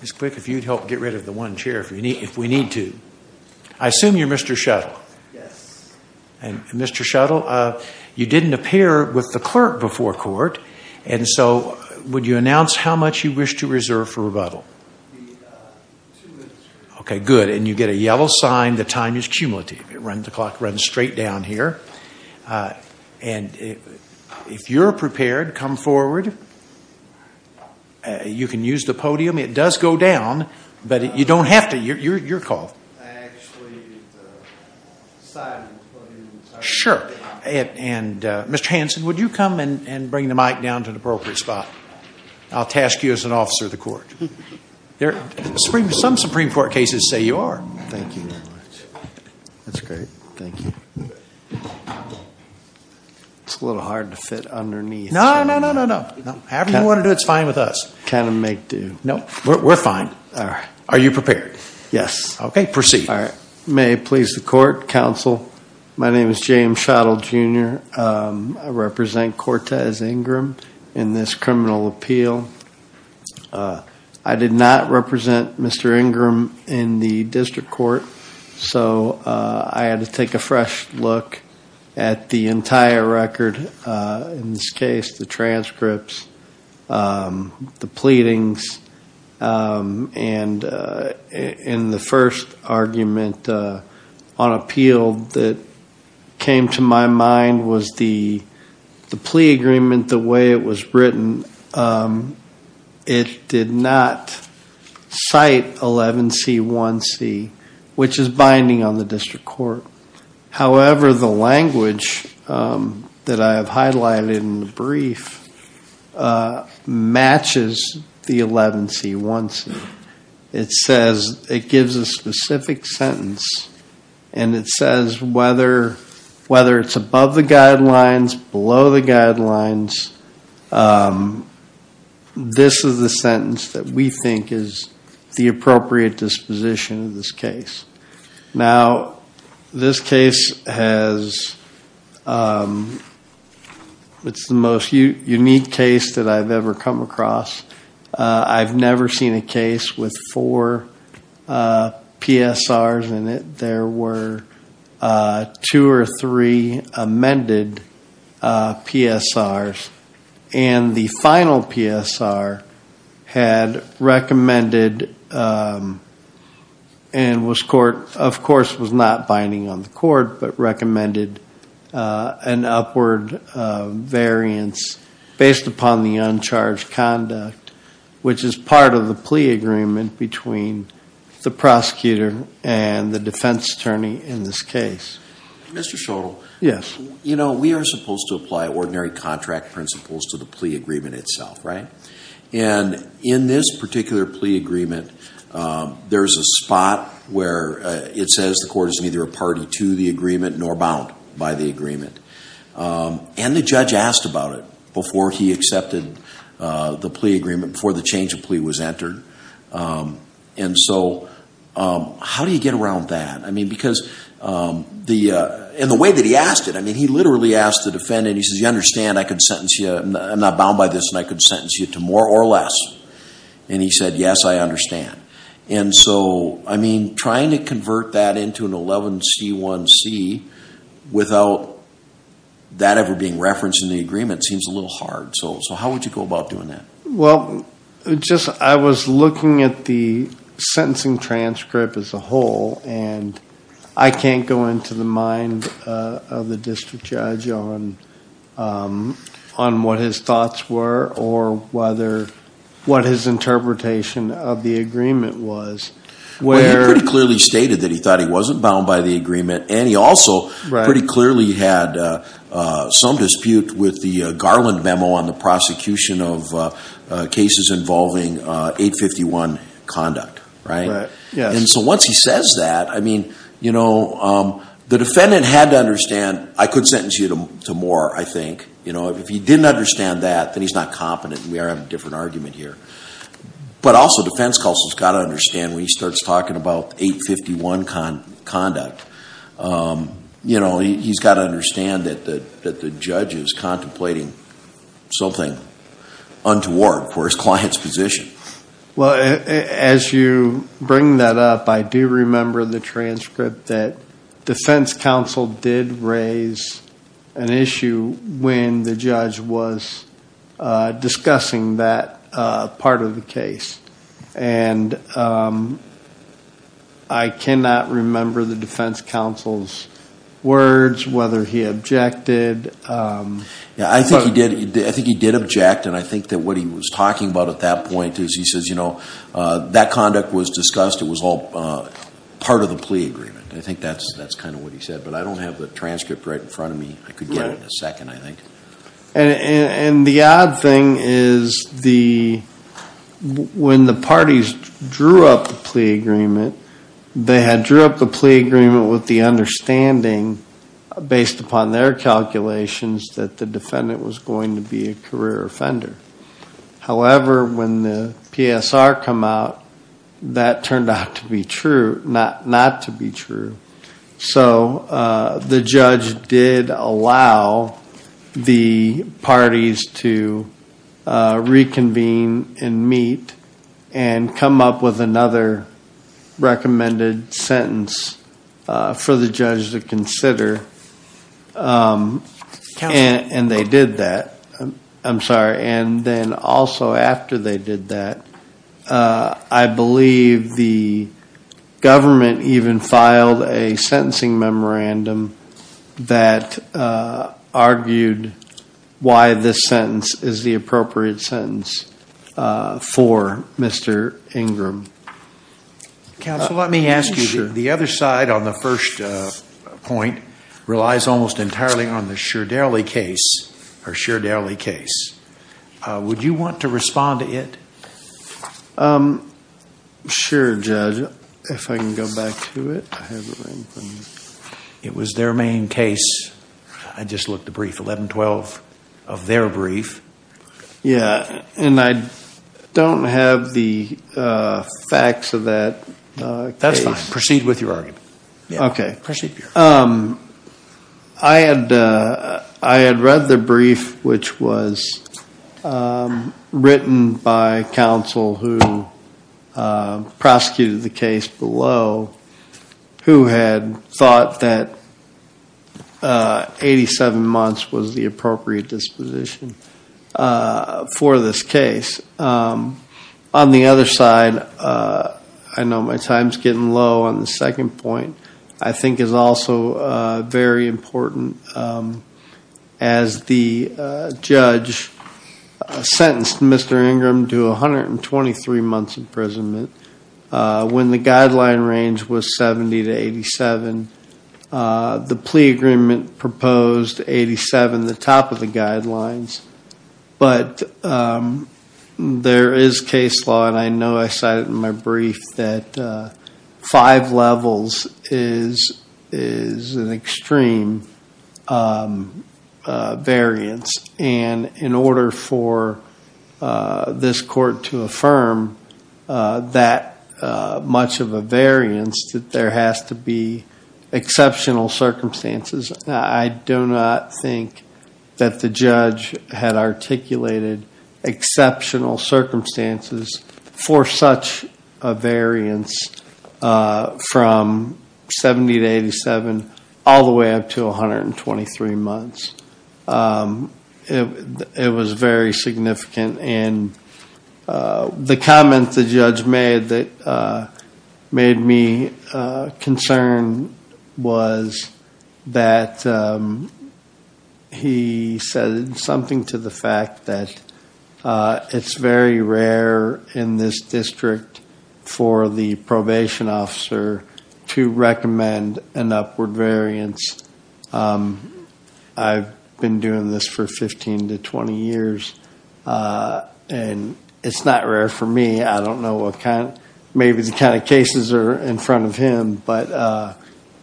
Mr. Quick, if you'd help get rid of the one chair if we need to. I assume you're Mr. Shuttle? Yes. And Mr. Shuttle, you didn't appear with the clerk before court. And so, would you announce how much you wish to reserve for rebuttal? Two minutes. Okay, good. And you get a yellow sign. The time is cumulative. The clock runs straight down here. And if you're prepared, come forward. You can use the podium. It does go down, but you don't have to. You're called. Actually, the side of the podium is up. Sure. And Mr. Hanson, would you come and bring the mic down to an appropriate spot? I'll task you as an officer of the court. Some Supreme Court cases say you are. Thank you very much. That's great. Thank you. It's a little hard to fit underneath. No, no, no, no, no. However you want to do it, it's fine with us. Kind of make do. No, we're fine. All right. Are you prepared? Yes. Okay, proceed. May it please the court, counsel, my name is James Shuttle, Jr. I represent Cortez Ingram in this criminal appeal. I did not represent Mr. Ingram in the district court, so I had to take a fresh look at the entire record. In this case, the transcripts, the pleadings, and in the first argument on appeal that came to my mind was the plea agreement, the way it was written, it did not cite 11C1C, which is binding on the district court. However, the language that I have highlighted in the brief matches the 11C1C. It says it gives a specific sentence, and it says whether it's above the guidelines, this is the sentence that we think is the appropriate disposition of this case. Now, this case has, it's the most unique case that I've ever come across. I've never seen a case with four PSRs in it. There were two or three amended PSRs, and the final PSR had recommended and was, of course, was not binding on the court, but recommended an upward variance based upon the uncharged conduct, which is part of the plea agreement between the prosecutor and the defense attorney in this case. Mr. Schottel. Yes. You know, we are supposed to apply ordinary contract principles to the plea agreement itself, right? And in this particular plea agreement, there is a spot where it says the court is neither a party to the agreement nor bound by the agreement. And the judge asked about it before he accepted the plea agreement, before the change of plea was entered. And so how do you get around that? I mean, because in the way that he asked it, I mean, he literally asked the defendant, he says, you understand I could sentence you, I'm not bound by this, and I could sentence you to more or less. And he said, yes, I understand. And so, I mean, trying to convert that into an 11C1C without that ever being referenced in the agreement seems a little hard. So how would you go about doing that? Well, I was looking at the sentencing transcript as a whole, and I can't go into the mind of the district judge on what his thoughts were or what his interpretation of the agreement was. Well, he pretty clearly stated that he thought he wasn't bound by the agreement, and he also pretty clearly had some dispute with the Garland memo on the prosecution of cases involving 851 conduct, right? And so once he says that, I mean, you know, the defendant had to understand I could sentence you to more, I think. You know, if he didn't understand that, then he's not competent, and we are having a different argument here. But also, defense counsel's got to understand when he starts talking about 851 conduct, you know, he's got to understand that the judge is contemplating something untoward for his client's position. Well, as you bring that up, I do remember the transcript that defense counsel did raise an issue when the judge was discussing that part of the case. And I cannot remember the defense counsel's words, whether he objected. Yeah, I think he did object. And I think that what he was talking about at that point is he says, you know, that conduct was discussed. It was all part of the plea agreement. I think that's kind of what he said, but I don't have the transcript right in front of me. I could get it in a second, I think. And the odd thing is when the parties drew up the plea agreement, they had drew up the plea agreement with the understanding, based upon their calculations, that the defendant was going to be a career offender. However, when the PSR came out, that turned out to be true, not to be true. So the judge did allow the parties to reconvene and meet and come up with another recommended sentence for the judge to consider. And they did that. I'm sorry. And then also after they did that, I believe the government even filed a sentencing memorandum that argued why this sentence is the appropriate sentence for Mr. Ingram. Counsel, let me ask you. The other side on the first point relies almost entirely on the Shardelli case. Would you want to respond to it? Sure, Judge. If I can go back to it. It was their main case. I just looked the brief, 1112, of their brief. Yeah, and I don't have the facts of that. That's fine. Proceed with your argument. Okay. Proceed. I had read the brief, which was written by counsel who prosecuted the case below, who had thought that 87 months was the appropriate disposition for this case. On the other side, I know my time's getting low on the second point. I think it's also very important. As the judge sentenced Mr. Ingram to 123 months imprisonment, when the guideline range was 70 to 87, the plea agreement proposed 87, the top of the guidelines. But there is case law, and I know I cited it in my brief, that five levels is an extreme variance. And in order for this court to affirm that much of a variance, that there has to be exceptional circumstances. I do not think that the judge had articulated exceptional circumstances for such a variance from 70 to 87, all the way up to 123 months. It was very significant. The comment the judge made that made me concerned was that he said something to the fact that it's very rare in this district for the probation officer to recommend an upward variance. I've been doing this for 15 to 20 years, and it's not rare for me. I don't know what kind... maybe the kind of cases are in front of him, but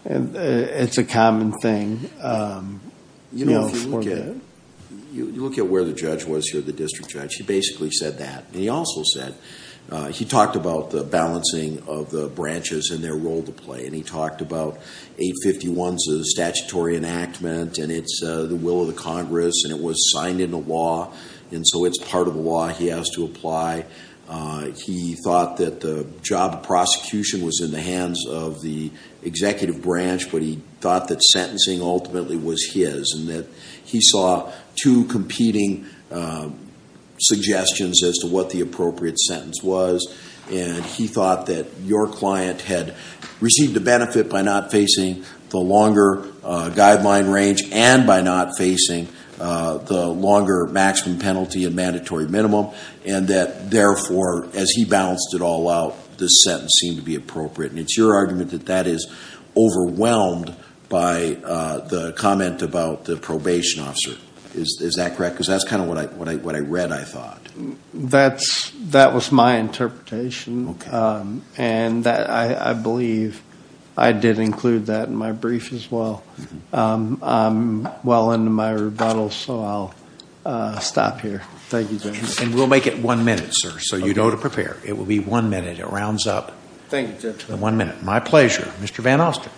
it's a common thing. You know, if you look at where the judge was here, the district judge, he basically said that. And he also said... he talked about the balancing of the branches and their role to play. And he talked about 851 is a statutory enactment, and it's the will of the Congress, and it was signed into law. And so it's part of the law he has to apply. He thought that the job of prosecution was in the hands of the executive branch, but he thought that sentencing ultimately was his. And that he saw two competing suggestions as to what the appropriate sentence was. And he thought that your client had received a benefit by not facing the longer guideline range and by not facing the longer maximum penalty and mandatory minimum. And that, therefore, as he balanced it all out, this sentence seemed to be appropriate. And it's your argument that that is overwhelmed by the comment about the probation officer. Is that correct? That was my interpretation. And I believe I did include that in my brief as well. I'm well into my rebuttal, so I'll stop here. Thank you, Judge. And we'll make it one minute, sir, so you know to prepare. It will be one minute. It rounds up. Thank you, Judge. One minute. My pleasure. Mr. Van Ostrin.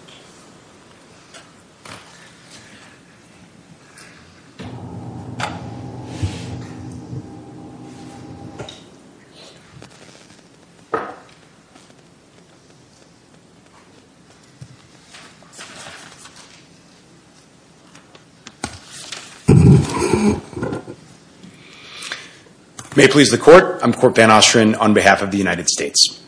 May it please the Court. I'm Court Van Ostrin on behalf of the United States.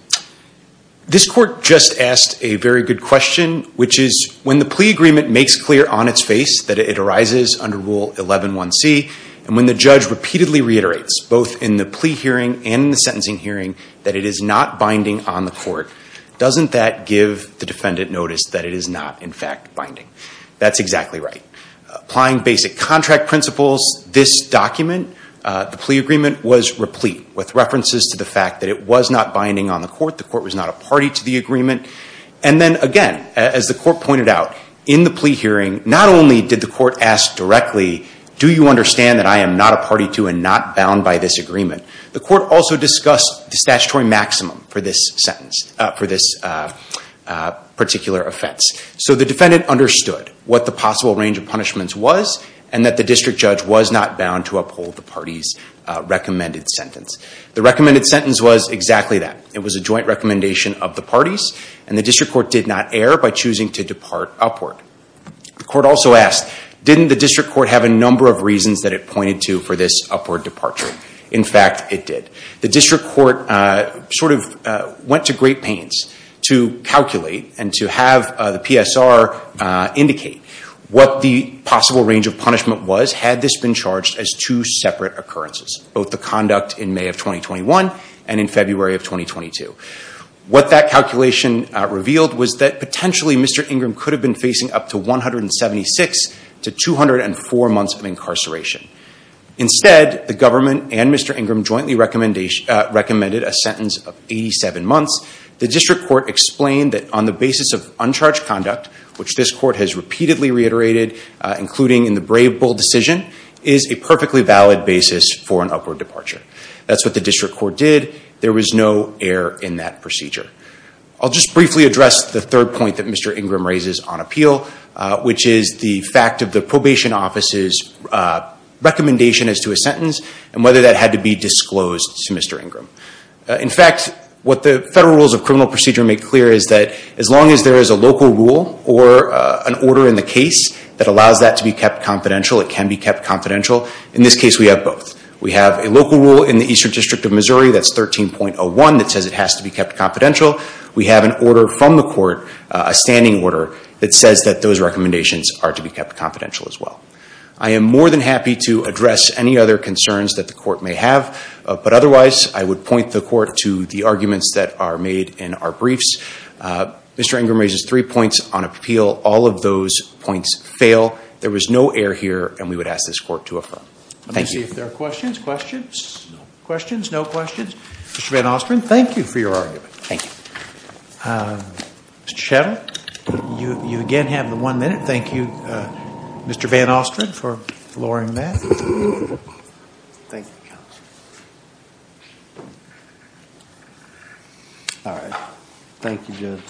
This Court just asked a very good question, which is, when the plea agreement makes clear on its face that it arises under Rule 11.1c, and when the judge repeatedly reiterates, both in the plea hearing and in the sentencing hearing, that it is not binding on the Court, doesn't that give the defendant notice that it is not, in fact, binding? That's exactly right. Applying basic contract principles, this document, the plea agreement, was replete, with references to the fact that it was not binding on the Court. The Court was not a party to the agreement. And then, again, as the Court pointed out, in the plea hearing, not only did the Court ask directly, do you understand that I am not a party to and not bound by this agreement, the Court also discussed the statutory maximum for this particular offense. So the defendant understood what the possible range of punishments was, and that the district judge was not bound to uphold the party's recommended sentence. The recommended sentence was exactly that. It was a joint recommendation of the parties, and the district court did not err by choosing to depart upward. The Court also asked, didn't the district court have a number of reasons that it pointed to for this upward departure? In fact, it did. The district court sort of went to great pains to calculate and to have the PSR indicate what the possible range of punishment was, had this been charged as two separate occurrences, both the conduct in May of 2021 and in February of 2022. What that calculation revealed was that potentially Mr. Ingram could have been facing up to 176 to 204 months of incarceration. Instead, the government and Mr. Ingram jointly recommended a sentence of 87 months. The district court explained that on the basis of uncharged conduct, which this court has repeatedly reiterated, including in the Brave Bull decision, is a perfectly valid basis for an upward departure. That's what the district court did. There was no error in that procedure. I'll just briefly address the third point that Mr. Ingram raises on appeal, which is the fact of the probation office's recommendation as to a sentence and whether that had to be disclosed to Mr. Ingram. In fact, what the federal rules of criminal procedure make clear is that as long as there is a local rule or an order in the case that allows that to be kept confidential, it can be kept confidential. In this case, we have both. We have a local rule in the Eastern District of Missouri that's 13.01 that says it has to be kept confidential. We have an order from the court, a standing order, that says that those recommendations are to be kept confidential as well. I am more than happy to address any other concerns that the court may have, but otherwise I would point the court to the arguments that are made in our briefs. Mr. Ingram raises three points on appeal. All of those points fail. There was no error here, and we would ask this court to affirm. Thank you. Let me see if there are questions. Questions? No questions. Mr. Van Ostrin, thank you for your argument. Thank you. Mr. Shettle, you again have the one minute. Thank you, Mr. Van Ostrin, for lowering that. Thank you. All right. Thank you, Jim.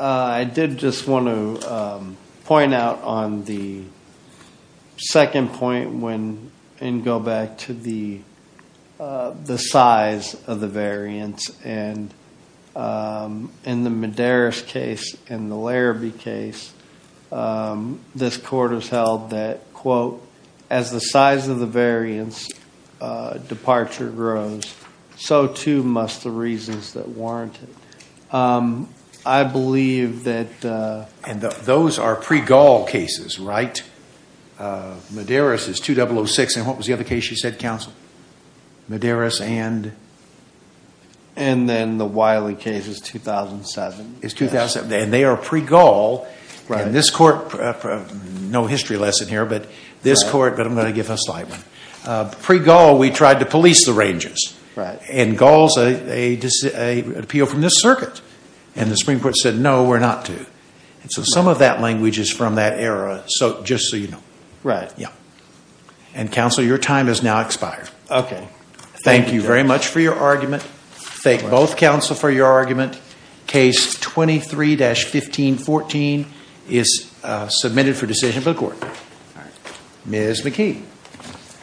I did just want to point out on the second point and go back to the size of the variance. In the Madaris case and the Larrabee case, this court has held that, quote, as the size of the variance departure grows, so too must the reasons that warrant it. I believe that... Those are pre-Gaul cases, right? Madaris is 2006. What was the other case you said, counsel? Madaris and... And then the Wiley case is 2007. It's 2007, and they are pre-Gaul. Right. And this court... no history lesson here, but this court... Right. But I'm going to give a slight one. Pre-Gaul, we tried to police the Rangers. Right. And Gaul is an appeal from this circuit. And the Supreme Court said, no, we're not to. And so some of that language is from that era, just so you know. Right. Yeah. And, counsel, your time has now expired. Okay. Thank you very much for your argument. Thank both counsel for your argument. Case 23-1514 is submitted for decision for the court. All right. Ms. McKee.